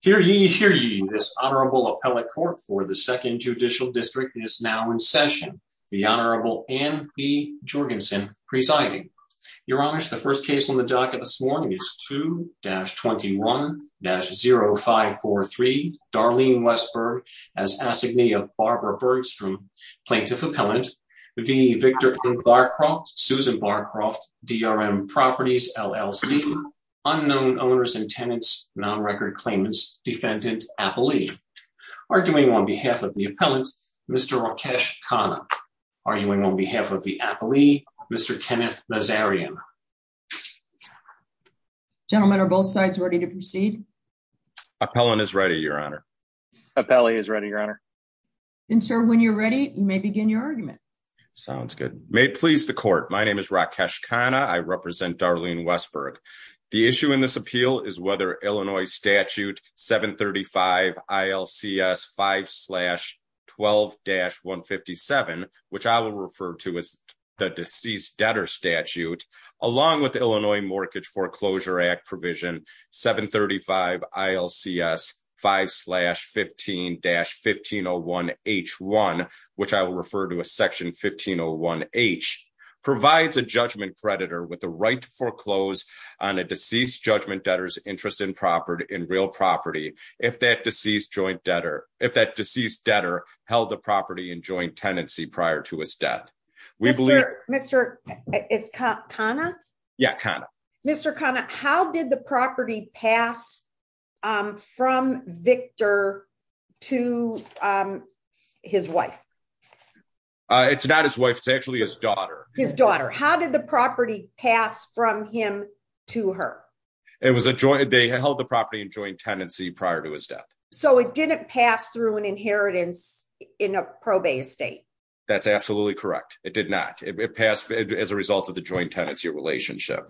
Hear ye, hear ye, this Honorable Appellate Court for the 2nd Judicial District is now in session, the Honorable Anne B. Jorgensen presiding. Your Honor, the first case on the docket this morning is 2-21-0543, Darlene Westberg as Assignee of Barbara Bergstrom, Plaintiff Appellant, v. Victor M. Barcroft, Susan Barcroft, DRM Properties, LLC, Unknown Owners and Tenants, Non-Record Claimants, Defendant Appellee. Arguing on behalf of the Appellant, Mr. Rakesh Khanna. Arguing on behalf of the Appellee, Mr. Kenneth Nazarian. Gentlemen, are both sides ready to proceed? Appellant is ready, Your Honor. Appellee is ready, Your Honor. And sir, when you're ready, you may begin your argument. Sounds good. May it please the Court, my name is Rakesh Khanna, I represent Darlene Westberg. The issue in this appeal is whether Illinois Statute 735 ILCS 5-12-157, which I will refer to as the Deceased Debtor Statute, along with Illinois Mortgage Foreclosure Act Provision 735 ILCS 5-15-1501H1, which I will refer to as Section 1501H, provides a judgment creditor with right to foreclose on a deceased judgment debtor's interest in property, in real property, if that deceased joint debtor, if that deceased debtor held the property in joint tenancy prior to his death. We believe... Mr. Khanna? Yeah, Khanna. Mr. Khanna, how did the property pass from Victor to his wife? It's not his wife, it's actually his daughter. His daughter. How did the property pass from him to her? It was a joint, they held the property in joint tenancy prior to his death. So it didn't pass through an inheritance in a probate estate? That's absolutely correct. It did not. It passed as a result of the joint tenancy relationship.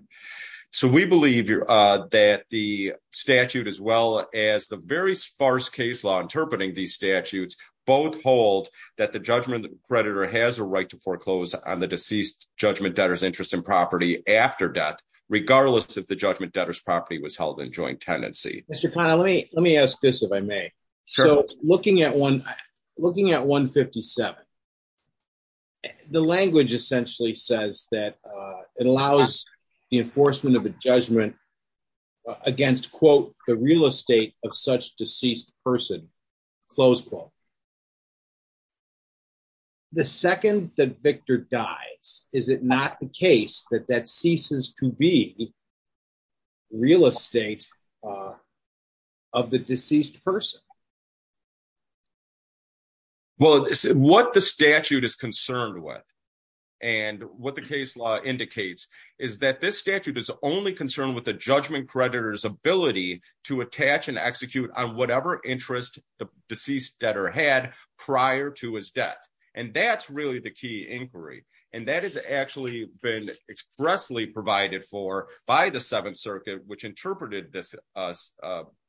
So we believe that the statute, as well as the very sparse case law interpreting these statutes, both hold that the judgment creditor has a right to foreclose on the deceased judgment debtor's interest in property after death, regardless if the judgment debtor's property was held in joint tenancy. Mr. Khanna, let me ask this, if I may. So looking at 157, the language essentially says that it allows the enforcement of a judgment against, quote, the real estate of such deceased person, close quote. The second that Victor dies, is it not the case that that ceases to be real estate of the deceased person? Well, what the statute is concerned with, and what the case law indicates, is that this statute is only concerned with the judgment creditor's ability to attach and execute on whatever interest the deceased debtor had prior to his death. And that's really the key inquiry. And that has actually been expressly provided for by the Seventh Circuit, which interpreted this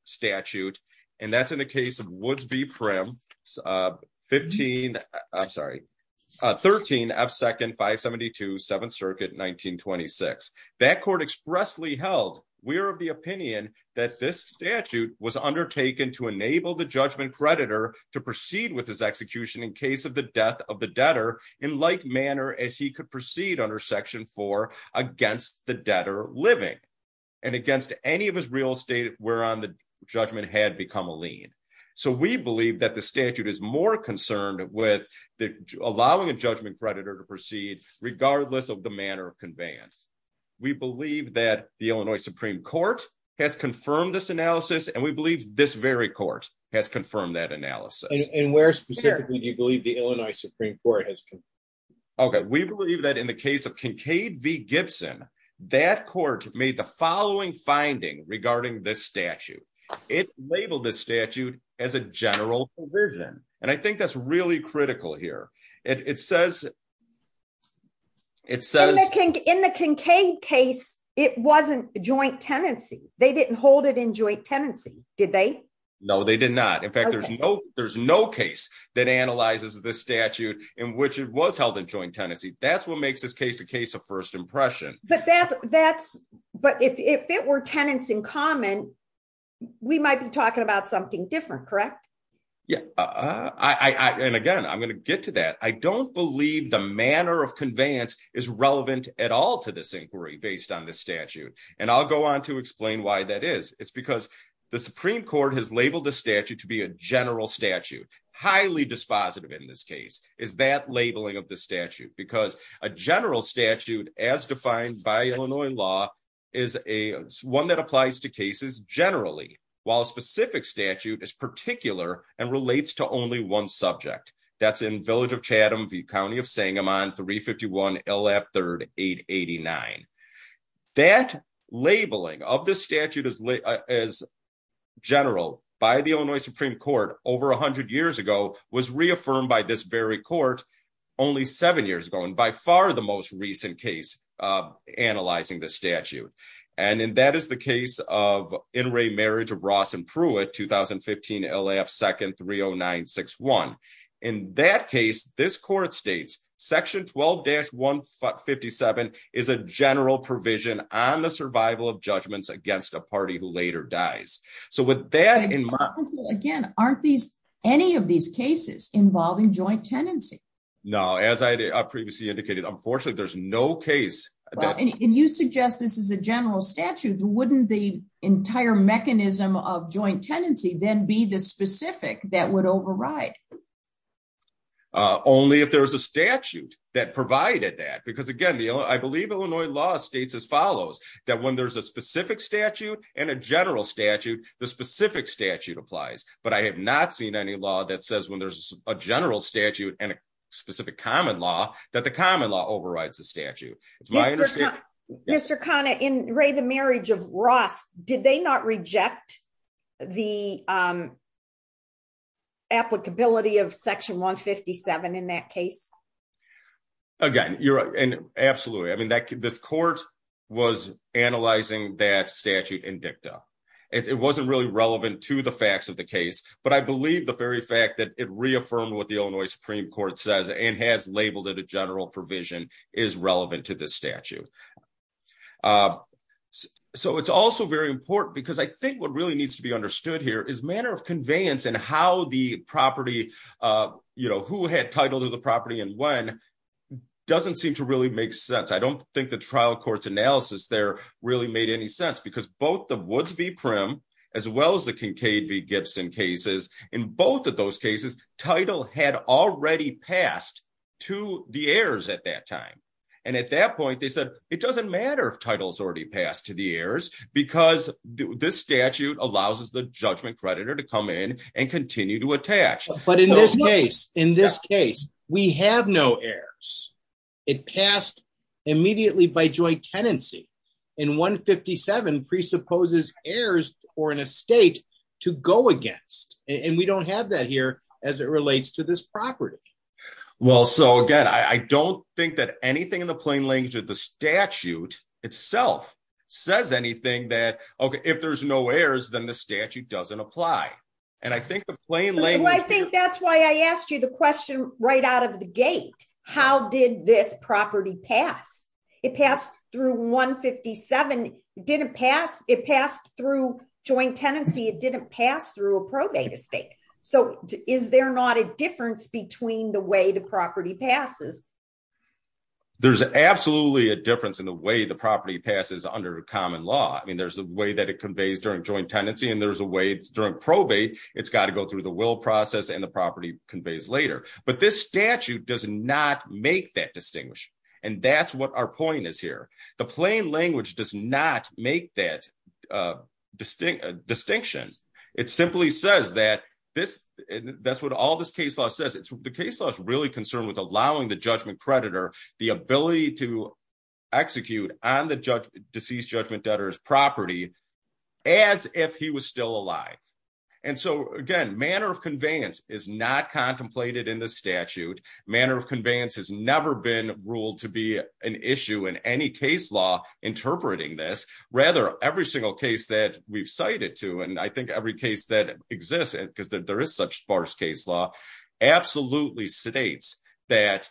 statute. And that's in the we're of the opinion that this statute was undertaken to enable the judgment creditor to proceed with his execution in case of the death of the debtor in like manner as he could proceed under Section 4 against the debtor living, and against any of his real estate whereon the judgment had become a lien. So we believe that the statute is more concerned with allowing a judgment creditor to proceed, regardless of the manner of conveyance. We believe that the Illinois Supreme Court has confirmed this analysis, and we believe this very court has confirmed that analysis. And where specifically do you believe the Illinois Supreme Court has? Okay, we believe that in the case of Kincaid v. Gibson, that court made the following finding regarding this statute. It labeled this statute as a general provision. And I think that's really critical here. It says... In the Kincaid case, it wasn't joint tenancy. They didn't hold it in joint tenancy, did they? No, they did not. In fact, there's no case that analyzes this statute in which it was held in joint tenancy. That's what makes this case a case of first impression. But if it were tenants in common, we might be talking about something different, correct? Yeah. And again, I'm going to get to that. I don't believe the manner of conveyance is relevant at all to this inquiry based on this statute. And I'll go on to explain why that is. It's because the Supreme Court has labeled the statute to be a general statute, highly dispositive in this case, is that labeling of the statute. Because a general statute, as defined by Illinois law, is one that applies to cases generally, while a specific statute is particular and relates to only one subject. That's in Village of Chatham v. County of Sangamon 351 L.F. 3rd 889. That labeling of this statute as general by the Illinois Supreme Court over 100 years ago was reaffirmed by this very court only seven years ago, and by far the most recent case analyzing the statute. And that is the case of in-ray marriage of Ross and Pruitt, 2015 L.F. 2nd 30961. In that case, this court states, Section 12-157 is a general provision on the survival of judgments against a party who later dies. So with that in mind... Again, aren't any of these cases involving joint tenancy? No. As I previously indicated, unfortunately, there's no case that... And you suggest this is a general statute. Wouldn't the entire mechanism of joint tenancy then be the specific that would override? Only if there was a statute that provided that. Because again, I believe Illinois law states as follows, that when there's a specific statute and a general statute, the specific statute applies. But I have not seen any law that says when there's a general statute and a specific common law, that the common law overrides the statute. It's my understanding... Mr. Khanna, in-ray the marriage of Ross, did they not reject the applicability of Section 157 in that case? Again, absolutely. This court was analyzing that statute in dicta. It wasn't really relevant to facts of the case, but I believe the very fact that it reaffirmed what the Illinois Supreme Court says and has labeled it a general provision is relevant to this statute. So it's also very important because I think what really needs to be understood here is manner of conveyance and how the property... Who had title to the property and when doesn't seem to really make sense. I don't think the trial court's analysis there really made any sense because both the Woods v. Prim as well as the Kincaid v. Gibson cases, in both of those cases, title had already passed to the heirs at that time. And at that point, they said, it doesn't matter if title's already passed to the heirs because this statute allows us the judgment creditor to come in and continue to attach. But in this case, we have no heirs. It passed immediately by joint tenancy. And 157 presupposes heirs or an estate to go against. And we don't have that here as it relates to this property. Well, so again, I don't think that anything in the plain language of the statute itself says anything that, okay, if there's no heirs, then the statute doesn't apply. And I think the plain language... I think that's why I asked you the question right out of the 157. It passed through joint tenancy. It didn't pass through a probate estate. So is there not a difference between the way the property passes? There's absolutely a difference in the way the property passes under common law. I mean, there's a way that it conveys during joint tenancy and there's a way during probate, it's got to go through the will process and the property conveys later. But this statute does not make that distinction. And that's what our point is here. The plain language does not make that distinction. It simply says that, that's what all this case law says. The case law is really concerned with allowing the judgment predator the ability to execute on the deceased judgment debtor's property as if he was still alive. And so again, manner of conveyance is not contemplated in the statute. Manner of conveyance has never been ruled to be an issue in any case law interpreting this. Rather, every single case that we've cited to, and I think every case that exists, because there is such sparse case law, absolutely states that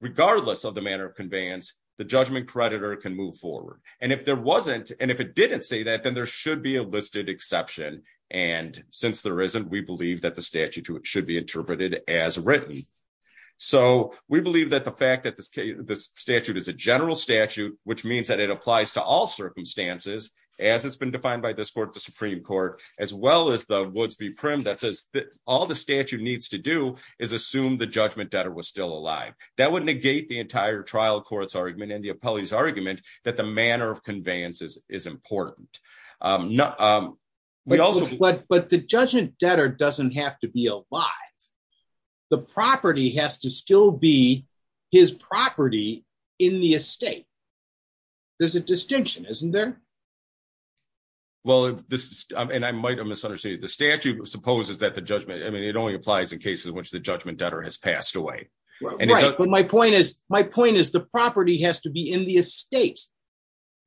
regardless of the manner of conveyance, the judgment predator can move forward. And if there wasn't, and if it didn't say that, then there should be a listed exception. And since there isn't, we believe that the statute should be interpreted as written. So we believe that the fact that this statute is a general statute, which means that it applies to all circumstances, as it's been defined by this court, the Supreme Court, as well as the Woods v. Primm that says that all the statute needs to do is assume the judgment debtor was still alive. That would negate the entire trial court's argument and the appellee's argument that the manner of conveyance is important. But the judgment debtor doesn't have to be alive. The property has to still be his property in the estate. There's a distinction, isn't there? Well, and I might have misunderstood the statute supposes that the judgment, I mean, it only applies in cases in which the judgment debtor has passed away. Right. But my point is, my point is the property has to be in the estate.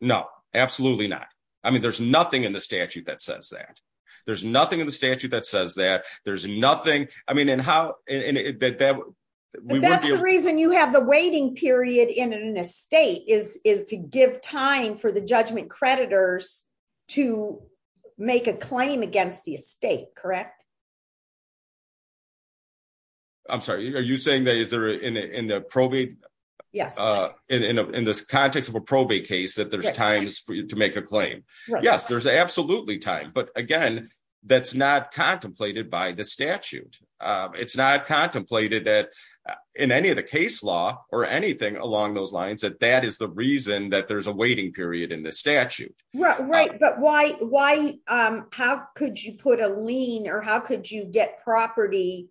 No, absolutely not. I mean, there's nothing in the statute that says that. There's nothing in the statute that says that. There's nothing. I mean, and how that's the reason you have the waiting period in an estate is to give time for the judgment creditors to make a claim against the estate. Correct. I'm sorry. Are you saying that is there in the probate? Yes. In this context of a probate case that there's times for you to make a claim? Yes, there's absolutely time. But again, that's not contemplated by the statute. It's not contemplated that in any of the case law or anything along those lines, that that is the reason that there's a waiting period in the statute. Right. But why? How could you put a lien or how could you get property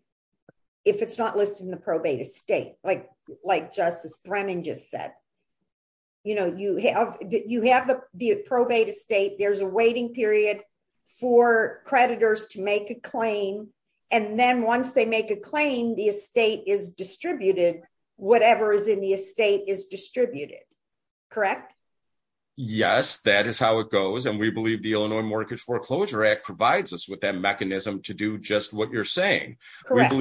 if it's not listed in the probate estate? Like Justice Brennan just said, you know, you have you have the probate estate. There's a waiting period for creditors to make a claim. And then once they make a claim, the estate is distributed. Whatever is in the estate is distributed. Correct. Yes, that is how it goes. And we believe the Illinois Mortgage Foreclosure Act provides us with that mechanism to do just what you're saying. Correct.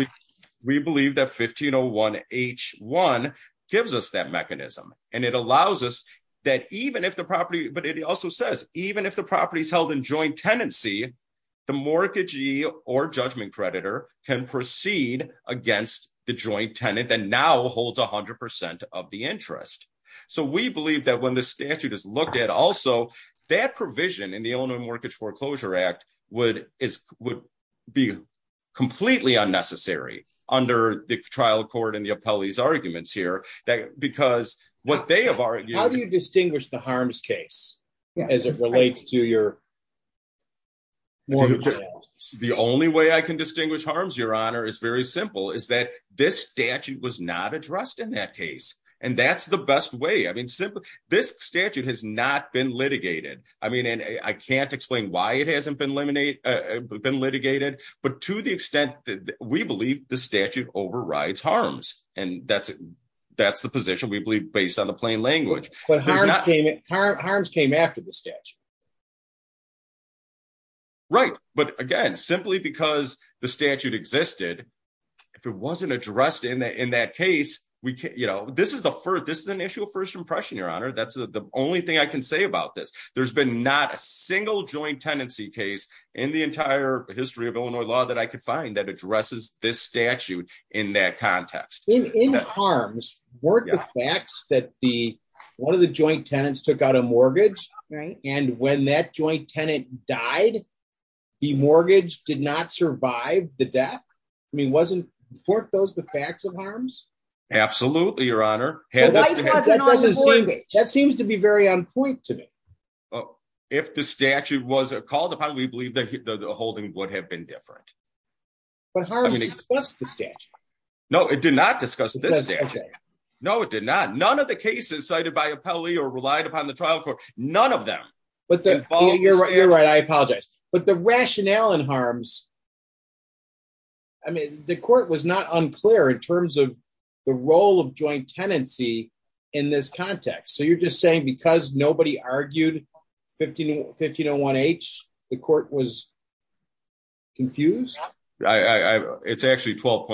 We believe that 1501 H1 gives us that mechanism and it allows us that even if the property but it also says even if the property is held in joint tenancy, the mortgagee or judgment creditor can proceed against the joint tenant that now holds 100 percent of the interest. So we believe that when the statute is looked at also that provision in the Illinois Mortgage Foreclosure Act would is would be completely unnecessary under the trial court and the appellee's arguments here that because what they have argued, how do you distinguish the harms case as it relates to your. The only way I can distinguish harms, Your Honor, is very simple, is that this statute was not addressed in that case, and that's the best way. I mean, it hasn't been eliminated, been litigated, but to the extent that we believe the statute overrides harms. And that's that's the position we believe based on the plain language. But harms came after the statute. Right. But again, simply because the statute existed, if it wasn't addressed in that case, we you know, this is the first this is an issue of first impression, Your Honor. That's the only I can say about this. There's been not a single joint tenancy case in the entire history of Illinois law that I could find that addresses this statute in that context. In harms, weren't the facts that the one of the joint tenants took out a mortgage and when that joint tenant died, the mortgage did not survive the death? I mean, wasn't weren't those the facts of harms? Absolutely, Your Honor. That seems to be very on point to me. If the statute was called upon, we believe that the holding would have been different. But harms discussed the statute. No, it did not discuss this statute. No, it did not. None of the cases cited by appellee or relied upon the trial court, none of them. But you're right, you're right. I apologize. But the rationale in harms. I mean, the court was not unclear in terms of the role of joint tenancy in this context. So you're just saying because nobody argued 151501 H, the court was confused. It's actually 12.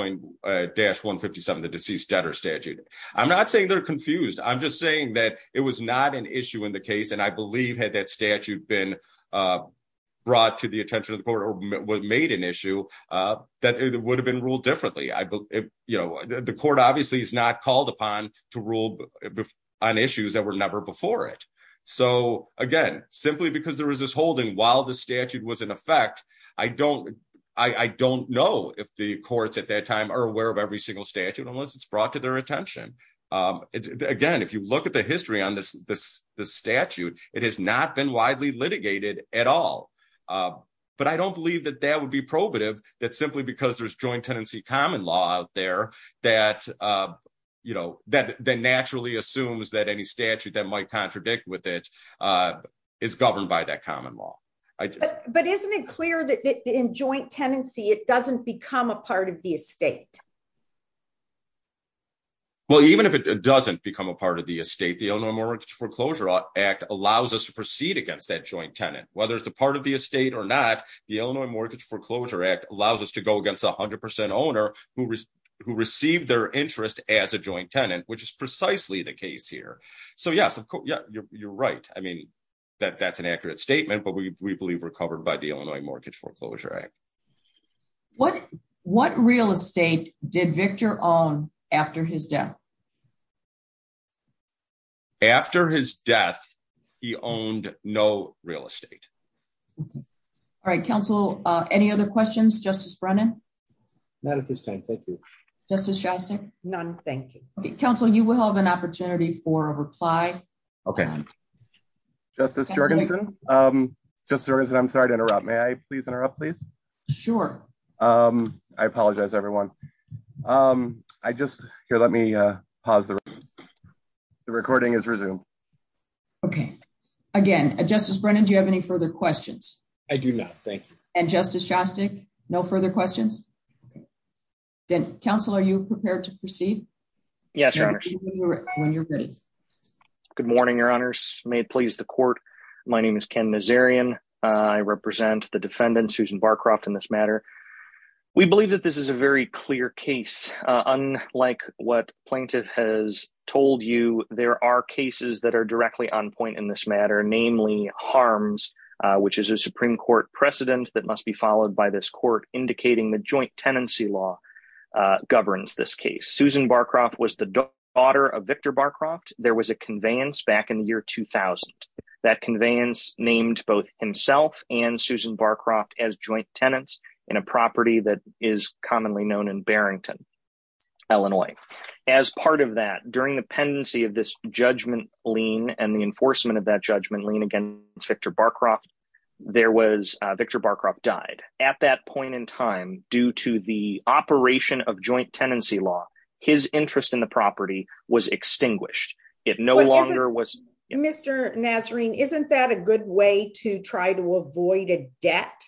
dash 157, the deceased debtor statute. I'm not saying they're confused. I'm just saying that it was not an issue in the case. And I believe had that statute been brought to the attention of the court or made an issue, that it would have been ruled differently. I believe, you know, the court obviously is not called upon to rule on issues that were never before it. So again, simply because there was this holding while the statute was in effect, I don't, I don't know if the courts at that time are aware of every single statute unless it's brought to their attention. Again, if you look at the history on this, this, this statute, it has not been widely litigated at all. But I don't believe that that would be probative that simply because there's joint tenancy common law out there that, you know, that then naturally assumes that any statute that might contradict with it is governed by that common law. But isn't it clear that in joint tenancy, it doesn't become a part of the estate? Well, even if it doesn't become a part of the estate, the Illinois Mortgage Foreclosure Act allows us to proceed against that joint tenant, whether it's a part of the estate or not, the Illinois Mortgage Foreclosure Act allows us to go against 100% owner who, who received their interest as a joint tenant, which is precisely the case here. So yes, of course, yeah, you're right. I mean, that that's an accurate statement, but we believe we're covered by the Illinois Victor owned after his death. After his death, he owned no real estate. All right, Council. Any other questions? Justice Brennan? None at this time. Thank you. Justice Shostak? None. Thank you. Council, you will have an opportunity for a reply. Okay. Justice Jorgensen. I'm sorry to interrupt. May I please interrupt, please? Sure. I apologize, everyone. I just here, let me pause the recording is resume. Okay. Again, Justice Brennan, do you have any further questions? I do not. Thank you. And Justice Shostak? No further questions. Then Council, are you prepared to proceed? Yes. Good morning, Your Honors. May it please the court. My name is Ken Nazarian. I represent the defendant, Susan Barcroft, in this matter. We believe that this is a very clear case. Unlike what plaintiff has told you, there are cases that are directly on point in this matter, namely harms, which is a Supreme Court precedent that must be followed by this court indicating the joint tenancy law governs this case. Susan Barcroft was the daughter of Victor Barcroft. There was a conveyance back in the year 2000. That conveyance named both himself and Susan Barcroft as joint tenants in a property that is commonly known in Barrington, Illinois. As part of that, during the pendency of this judgment lien and the enforcement of that judgment lien against Victor Barcroft, there was, Victor Barcroft died. At that point in time, due to the operation of joint tenancy law, his interest in the property was extinguished. It no longer was. Mr. Nazarian, isn't that a good way to try to avoid a debt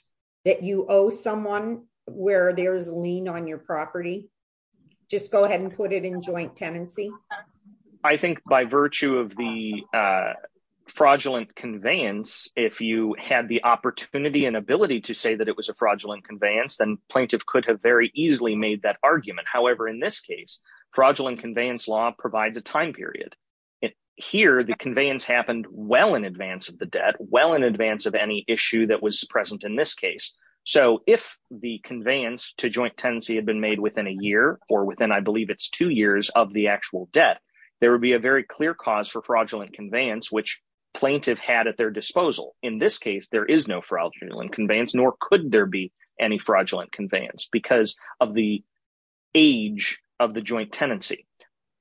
that you owe someone where there's lien on your property? Just go ahead and put it in joint tenancy. I think by virtue of the fraudulent conveyance, if you had the opportunity and ability to say that it was a fraudulent conveyance, then plaintiff could have very easily made that a fraudulent conveyance. Here, the conveyance happened well in advance of the debt, well in advance of any issue that was present in this case. So if the conveyance to joint tenancy had been made within a year or within, I believe it's two years of the actual debt, there would be a very clear cause for fraudulent conveyance, which plaintiff had at their disposal. In this case, there is no fraudulent conveyance, nor could there be any fraudulent conveyance because of the age of the joint tenancy.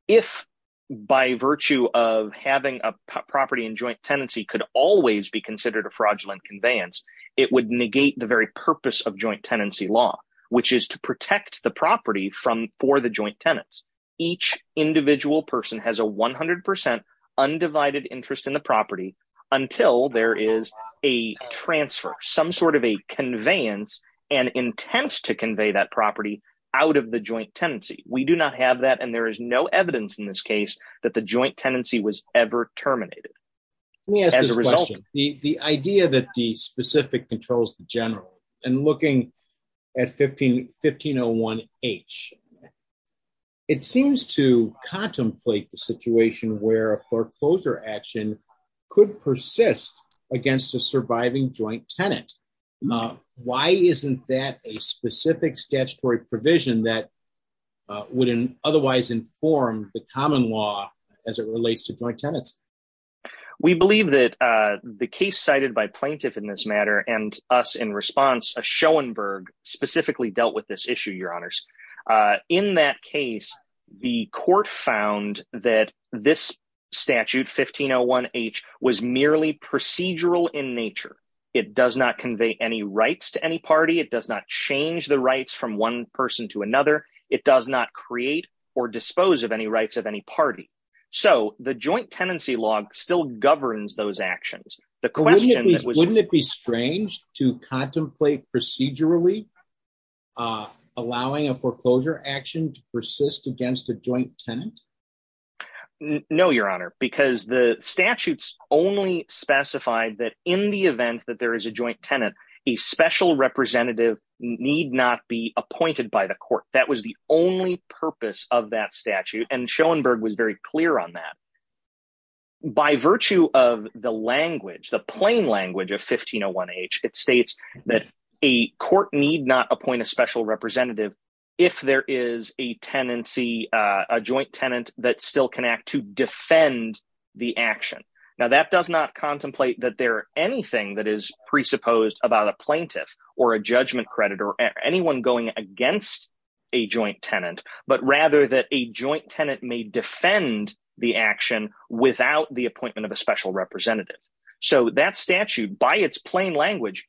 If by virtue of having a property in joint tenancy could always be considered a fraudulent conveyance, it would negate the very purpose of joint tenancy law, which is to protect the property for the joint tenants. Each individual person has a 100% undivided interest in the property until there is a transfer, some sort of a conveyance and intent to convey that property out of the joint tenancy. We do not have that, and there is no evidence in this case that the joint tenancy was ever terminated. Let me ask this question. The idea that the specific controls the general, and looking at 1501H, it seems to contemplate the situation where a foreclosure action could persist against a surviving joint tenant. Why isn't that a specific statutory provision that would otherwise inform the common law as it relates to joint tenants? We believe that the case cited by plaintiff in this matter, and us in response, Schoenberg specifically dealt with this issue, your honors. In that case, the court found that this statute, 1501H, was merely procedural in nature. It does not convey any rights to any party. It does not change the rights from one person to another. It does not create or dispose of any rights of any party. So, the joint tenancy law still governs those actions. The question that was- Wouldn't it be strange to contemplate procedurally allowing a foreclosure action to persist against a joint tenant? No, your honor, because the statutes only specified that in the event that there is a joint tenant, a special representative need not be appointed by the court. That was the only purpose of that statute, and Schoenberg was very clear on that. By virtue of the language, the plain language of 1501H, it states that a court need not appoint a special representative if there is a tenancy, a joint tenant that still can act to defend the action. Now, that does not contemplate that there are anything that is presupposed about a plaintiff or a judgment creditor or anyone going against a joint tenant, but rather that a joint tenant may defend the action without the appointment of a special representative. So, that statute, by its plain language,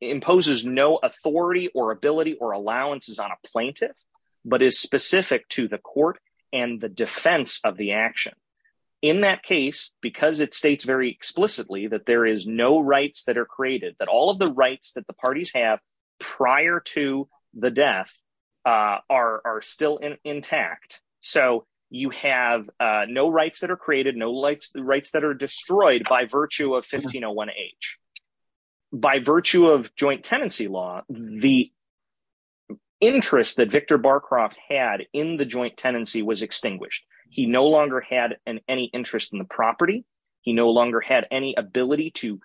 imposes no authority or allowances on a plaintiff, but is specific to the court and the defense of the action. In that case, because it states very explicitly that there is no rights that are created, that all of the rights that the parties have prior to the death are still intact, so you have no rights that are created, no rights that are destroyed by virtue of 1501H. By virtue of joint tenancy law, the interest that Victor Barcroft had in the joint tenancy was extinguished. He no longer had any interest in the property. He no longer had any ability to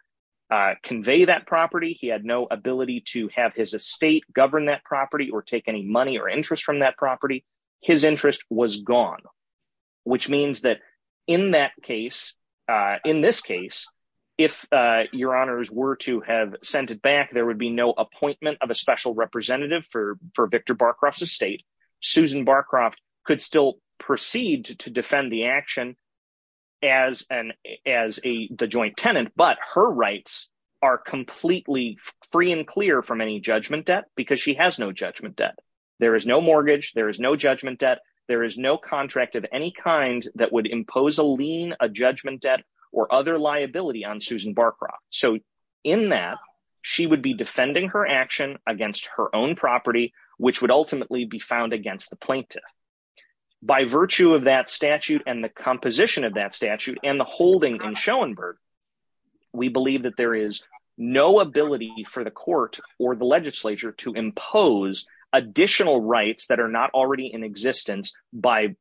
convey that property. He had no ability to have his estate govern that property or take any money or interest from that property. His interest was gone, which means that in that case, in this case, if your honors were to have sent it back, there would be no appointment of a special representative for Victor Barcroft's estate. Susan Barcroft could still proceed to defend the action as the joint tenant, but her rights are completely free and clear from any judgment debt because she has no judgment debt. There is no mortgage. There is no judgment debt. There is no contract of any kind that would impose a lien, a judgment debt, or other liability on Susan Barcroft, so in that, she would be defending her action against her own property, which would ultimately be found against the plaintiff. By virtue of that statute and the composition of that statute and the holding in Schoenberg, we believe that there is no ability for the court or the legislature to impose additional rights that are not already in existence by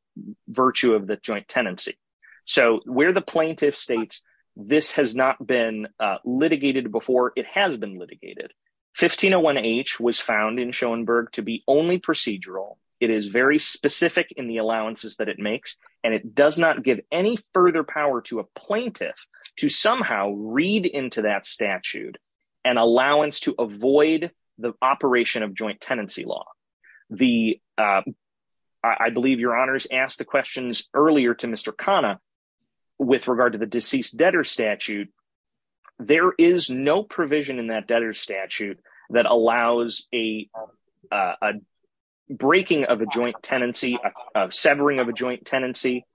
virtue of the joint tenancy, so where the plaintiff states this has not been litigated before, it has been litigated. 1501H was found in Schoenberg to be only procedural. It is very specific in the allowances that it makes, and it does not give any further power to a plaintiff to somehow read into that operation of joint tenancy law. I believe your honors asked the questions earlier to Mr. Khanna with regard to the deceased debtor statute. There is no provision in that debtor statute that allows a breaking of a joint tenancy, a severing of a joint tenancy,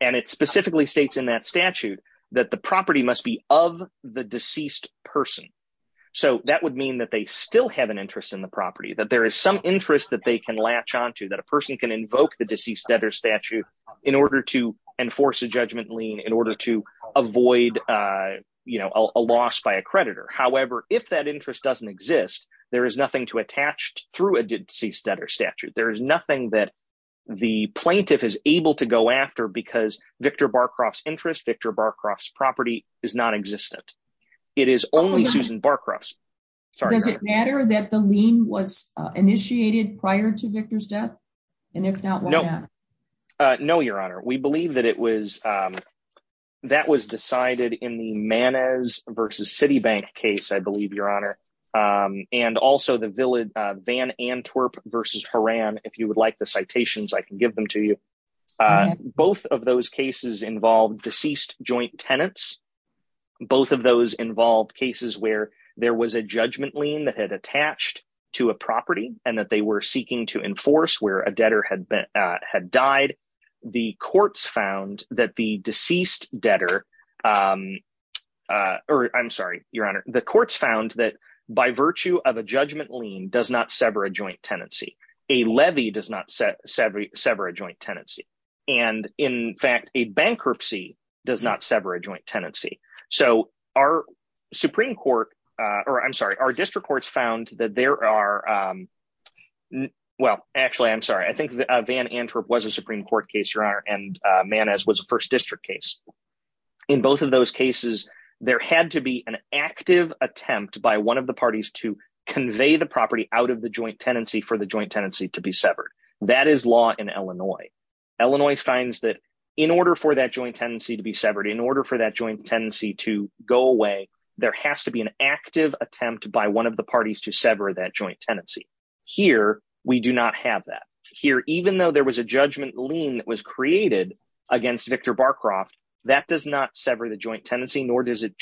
and it specifically states in that statute that the property must be of the deceased person, so that would mean they still have an interest in the property, that there is some interest that they can latch onto, that a person can invoke the deceased debtor statute in order to enforce a judgment lien, in order to avoid a loss by a creditor. However, if that interest doesn't exist, there is nothing to attach through a deceased debtor statute. There is nothing that the plaintiff is able to go after because Victor Barcroft's interest, Victor Barcroft's property is non-existent. It is only Susan Barcroft's. Does it matter that the lien was initiated prior to Victor's death? And if not, why not? No, your honor. We believe that it was, that was decided in the Manez versus Citibank case, I believe, your honor, and also the Van Antwerp versus Horan, if you would like the citations, I can give them to you. Both of those cases involved deceased joint tenants. Both of those involved cases where there was a judgment lien that had attached to a property and that they were seeking to enforce where a debtor had died. The courts found that the deceased debtor, or I'm sorry, your honor, the courts found that by virtue of a judgment lien does not sever a joint tenancy. A levy does not sever a joint tenancy. And in fact, a bankruptcy does not sever a joint tenancy. So our Supreme Court, or I'm sorry, our district courts found that there are, well, actually, I'm sorry, I think Van Antwerp was a Supreme Court case, your honor, and Manez was a first district case. In both of those cases, there had to be an active attempt by one the parties to convey the property out of the joint tenancy for the joint tenancy to be severed. That is law in Illinois. Illinois finds that in order for that joint tenancy to be severed, in order for that joint tenancy to go away, there has to be an active attempt by one of the parties to sever that joint tenancy. Here, we do not have that. Here, even though there was a judgment lien that was created against Victor Barcroft, that does not sever the joint tenancy, nor does it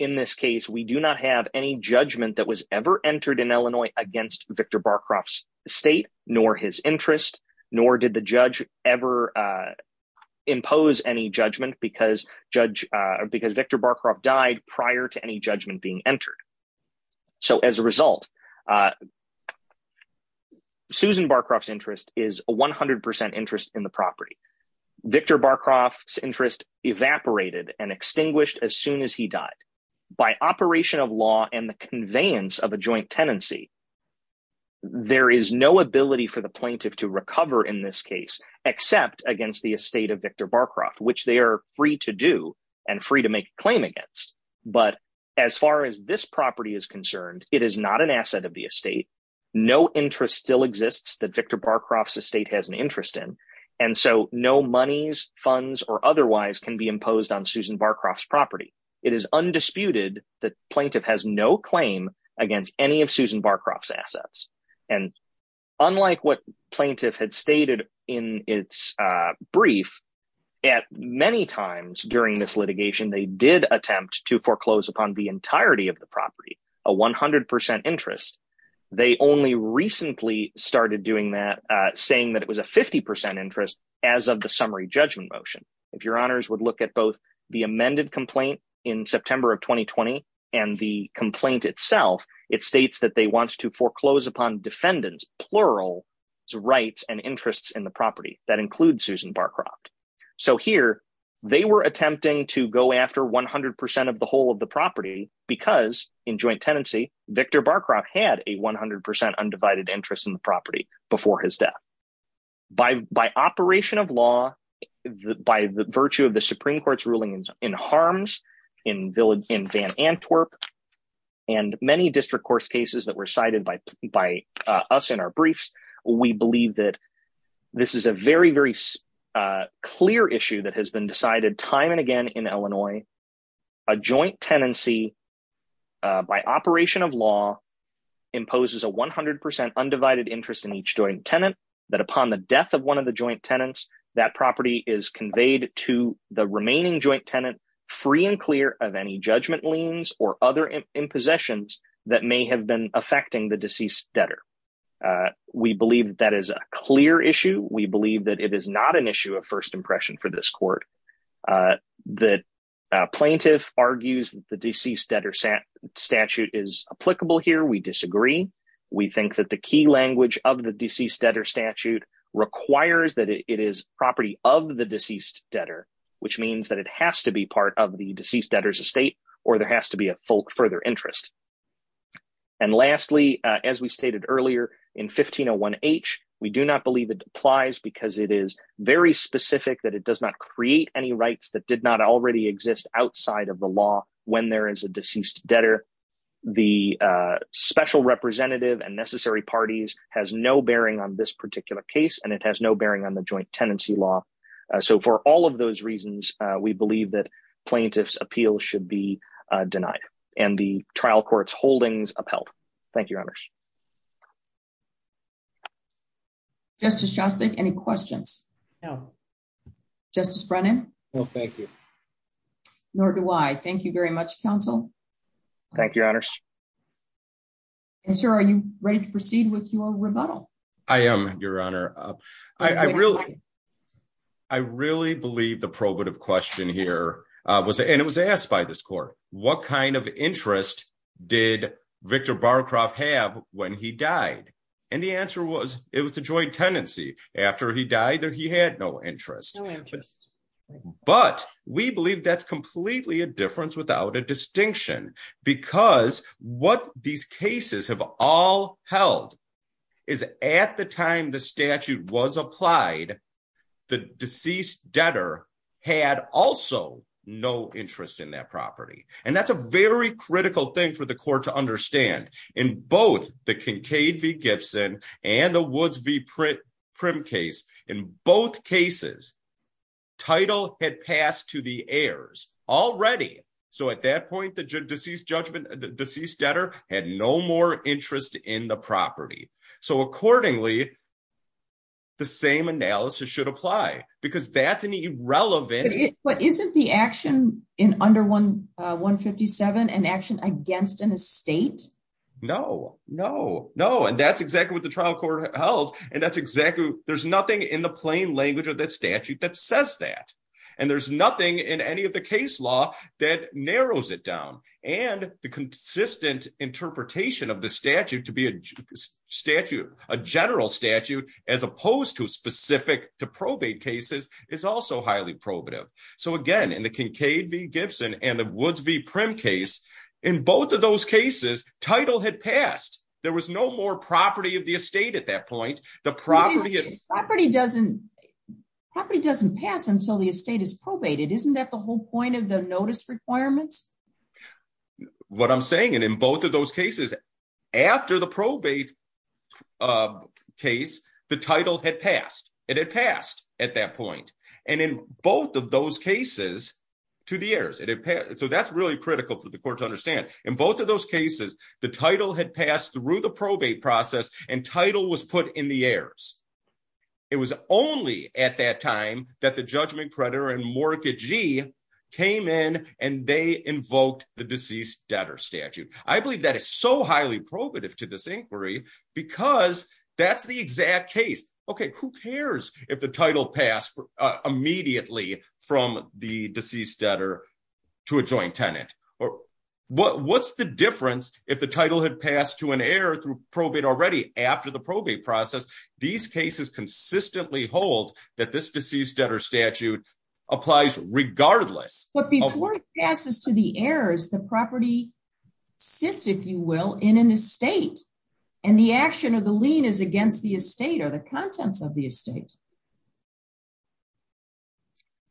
in this case, we do not have any judgment that was ever entered in Illinois against Victor Barcroft's state, nor his interest, nor did the judge ever impose any judgment because Victor Barcroft died prior to any judgment being entered. So as a result, Susan Barcroft's interest is 100% interest in the property. Victor Barcroft's interest evaporated and extinguished as soon as he died. By operation of law and the conveyance of a joint tenancy, there is no ability for the plaintiff to recover in this case except against the estate of Victor Barcroft, which they are free to do and free to make a claim against. But as far as this property is concerned, it is not an asset of the estate. No interest still exists that Victor Barcroft's estate has an interest in. And so no monies, funds, or otherwise can be imposed on Susan Barcroft's property. It is undisputed that plaintiff has no claim against any of Susan Barcroft's assets. And unlike what plaintiff had stated in its brief, at many times during this litigation, they did attempt to foreclose upon the entirety of the property, a 100% interest. They only recently started doing that, saying that it was a 50% interest as of the summary judgment motion. If your honors would look at both the amended complaint in September of 2020 and the complaint itself, it states that they want to foreclose upon defendants, plural, rights and interests in the property that include Barcroft. So here, they were attempting to go after 100% of the whole of the property because in joint tenancy, Victor Barcroft had a 100% undivided interest in the property before his death. By operation of law, by the virtue of the Supreme Court's ruling in harms in Van Antwerp, and many district court cases that were cited by us in our briefs, we believe that this is a very, very clear issue that has been decided time and again in Illinois. A joint tenancy, by operation of law, imposes a 100% undivided interest in each joint tenant, that upon the death of one of the joint tenants, that property is conveyed to the remaining joint tenant, free and clear of any judgment liens or other impossessions that may have been affecting the not an issue of first impression for this court. The plaintiff argues that the deceased debtor statute is applicable here. We disagree. We think that the key language of the deceased debtor statute requires that it is property of the deceased debtor, which means that it has to be part of the deceased debtor's estate or there has to be a full further interest. And lastly, as we stated earlier, in 1501H, we do not believe it applies because it is very specific that it does not create any rights that did not already exist outside of the law when there is a deceased debtor. The special representative and necessary parties has no bearing on this particular case, and it has no bearing on the joint tenancy law. So for all of those reasons, we believe that plaintiff's appeal should be and the trial court's holdings upheld. Thank you, Your Honor. Justice Shostak, any questions? No. Justice Brennan? No, thank you. Nor do I. Thank you very much, counsel. Thank you, Your Honor. And sir, are you ready to proceed with your rebuttal? I am, Your Honor. I really believe the probative question here was, and it was asked by this court, what kind of interest did Victor Barcroft have when he died? And the answer was, it was the joint tenancy. After he died, he had no interest. But we believe that's completely a difference without a distinction, because what these cases have all held is at the time the statute was applied, the deceased debtor had also no interest in that property. And that's a very critical thing for the court to understand. In both the Kincaid v. Gibson and the Woods v. Prim case, in both cases, title had passed to the heirs already. So at that point, the deceased debtor had no more interest in the property. So accordingly, the same analysis should apply, because that's an irrelevant... But isn't the action in under 157 an action against an estate? No, no, no. And that's exactly what the trial court held. And that's exactly... There's nothing in the plain language of that statute that says that. And there's nothing in any of the case law that narrows it down. And the consistent interpretation of the statute to be a general statute, as opposed to specific to probate cases, is also highly probative. So again, in the Kincaid v. Gibson and the Woods v. Prim case, in both of those cases, title had passed. There was no more property of the estate at that point. The property doesn't pass until the estate is probated. Isn't that the whole point of the notice requirements? What I'm saying, in both of those cases, after the probate case, the title had passed. It had passed at that point. And in both of those cases to the heirs. So that's really critical for the court to understand. In both of those cases, the title had passed through the probate process and title was put in the heirs. It was only at that time that the Judge McPredator and Morka Gee came in and they invoked the deceased debtor statute. I believe that is so highly probative to this inquiry because that's the exact case. Okay, who cares if the title passed immediately from the deceased debtor to a joint tenant? Or what's the difference if the title had passed to an heir through probate already after the probate process? These cases consistently hold that this deceased debtor applies regardless. But before it passes to the heirs, the property sits, if you will, in an estate. And the action of the lien is against the estate or the contents of the estate.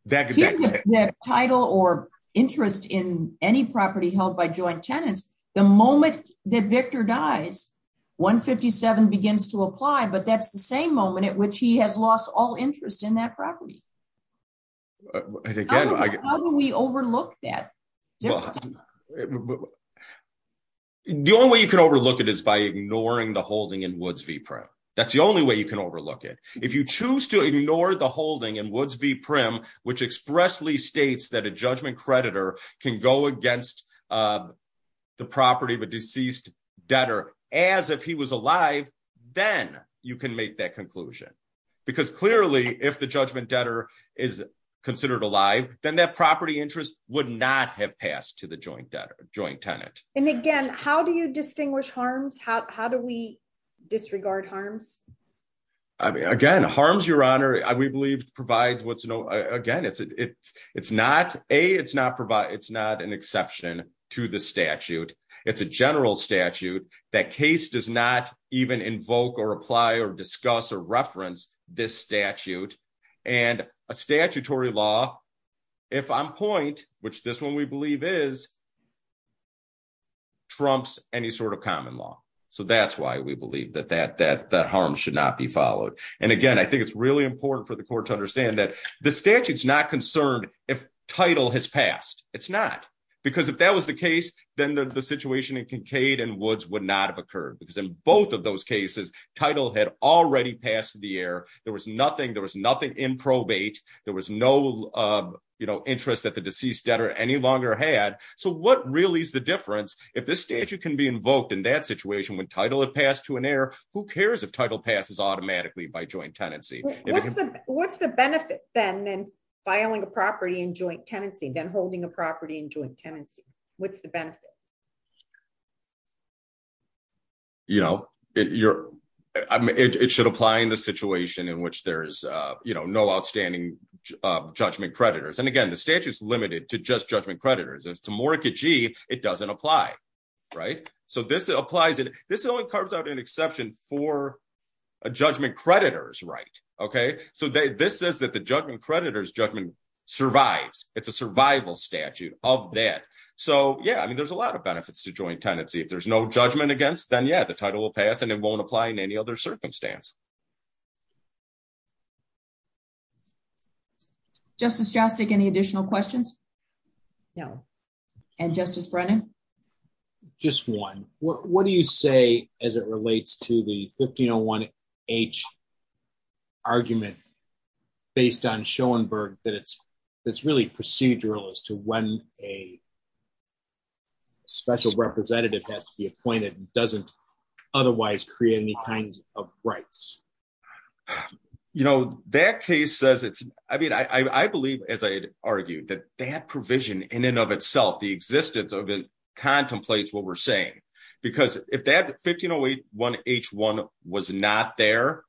That title or interest in any property held by joint tenants, the moment that Victor dies, 157 begins to apply. But that's the same moment at which he has lost all interest in that property. And again, how do we overlook that? The only way you can overlook it is by ignoring the holding in Woods v. Prim. That's the only way you can overlook it. If you choose to ignore the holding in Woods v. Prim, which expressly states that a judgment creditor can go against the property of a deceased debtor as if he was alive, then you can make that conclusion. Because clearly, if the judgment debtor is considered alive, then that property interest would not have passed to the joint tenant. And again, how do you distinguish harms? How do we disregard harms? Again, harms, Your Honor, we believe provide what's, again, it's not, A, it's not an exception to the statute. It's a general statute. That case does not even invoke or apply or discuss or reference this statute. And a statutory law, if on point, which this one we believe is, trumps any sort of common law. So that's why we believe that that harm should not be followed. And again, I think it's really important for the court to understand that the statute's not concerned if title has passed. It's not. Because if that was the case, then the situation in Kincaid and Woods would not have occurred. Because in both of those cases, title had already passed the air. There was nothing in probate. There was no interest that the deceased debtor any longer had. So what really is the difference? If this statute can be invoked in that situation when title had passed to an heir, who cares if title passes automatically by joint tenancy? What's the benefit, then, than filing a property in joint tenancy, then holding a property in joint tenancy? What's the benefit? You know, it should apply in the situation in which there's, you know, no outstanding judgment creditors. And again, the statute's limited to just judgment creditors. It's a okay. So this says that the judgment creditors judgment survives. It's a survival statute of that. So yeah, I mean, there's a lot of benefits to joint tenancy. If there's no judgment against, then yeah, the title will pass and it won't apply in any other circumstance. Justice Jostik, any additional questions? No. And Justice Brennan? Just one. What do you say as it relates to the 1501H argument based on Schoenberg, that it's really procedural as to when a special representative has to be appointed and doesn't otherwise create any kinds of rights? You know, that case says it's, I mean, I believe, as I argued, that that provision in and of itself, the existence of it contemplates what we're saying. Because if that 1501H1 was not there,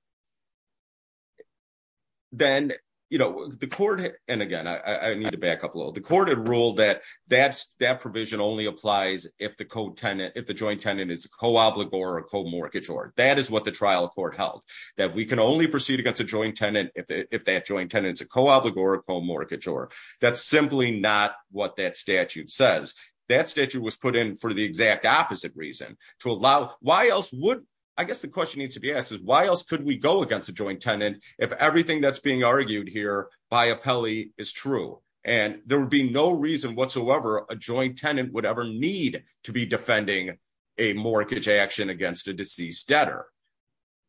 then, you know, the court, and again, I need to back up a little, the court had ruled that that's that provision only applies if the co-tenant, if the joint tenant is a co-obligor or a co-mortgagor. That is what the trial court held. That we can only proceed against a joint tenant as a co-obligor or a co-mortgagor. That's simply not what that statute says. That statute was put in for the exact opposite reason, to allow, why else would, I guess the question needs to be asked is why else could we go against a joint tenant if everything that's being argued here by appellee is true? And there would be no reason whatsoever a joint tenant would ever need to be defending a mortgage action against a deceased debtor.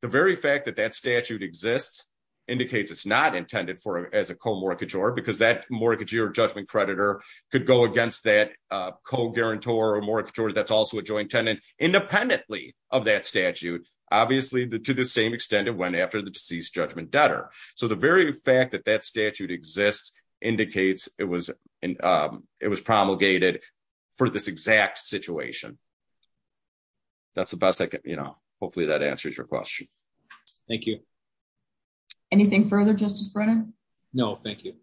The very fact that that as a co-mortgagor, because that mortgage or judgment creditor could go against that co-guarantor or mortgagor that's also a joint tenant, independently of that statute, obviously, to the same extent it went after the deceased judgment debtor. So the very fact that that statute exists indicates it was promulgated for this exact situation. That's the best I can, you know, hopefully that answers your question. Thank you. Anything further, Justice Brennan? No, thank you.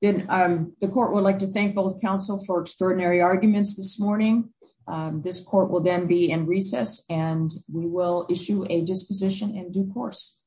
Then the court would like to thank both counsel for extraordinary arguments this morning. This court will then be in recess and we will issue a disposition in due course.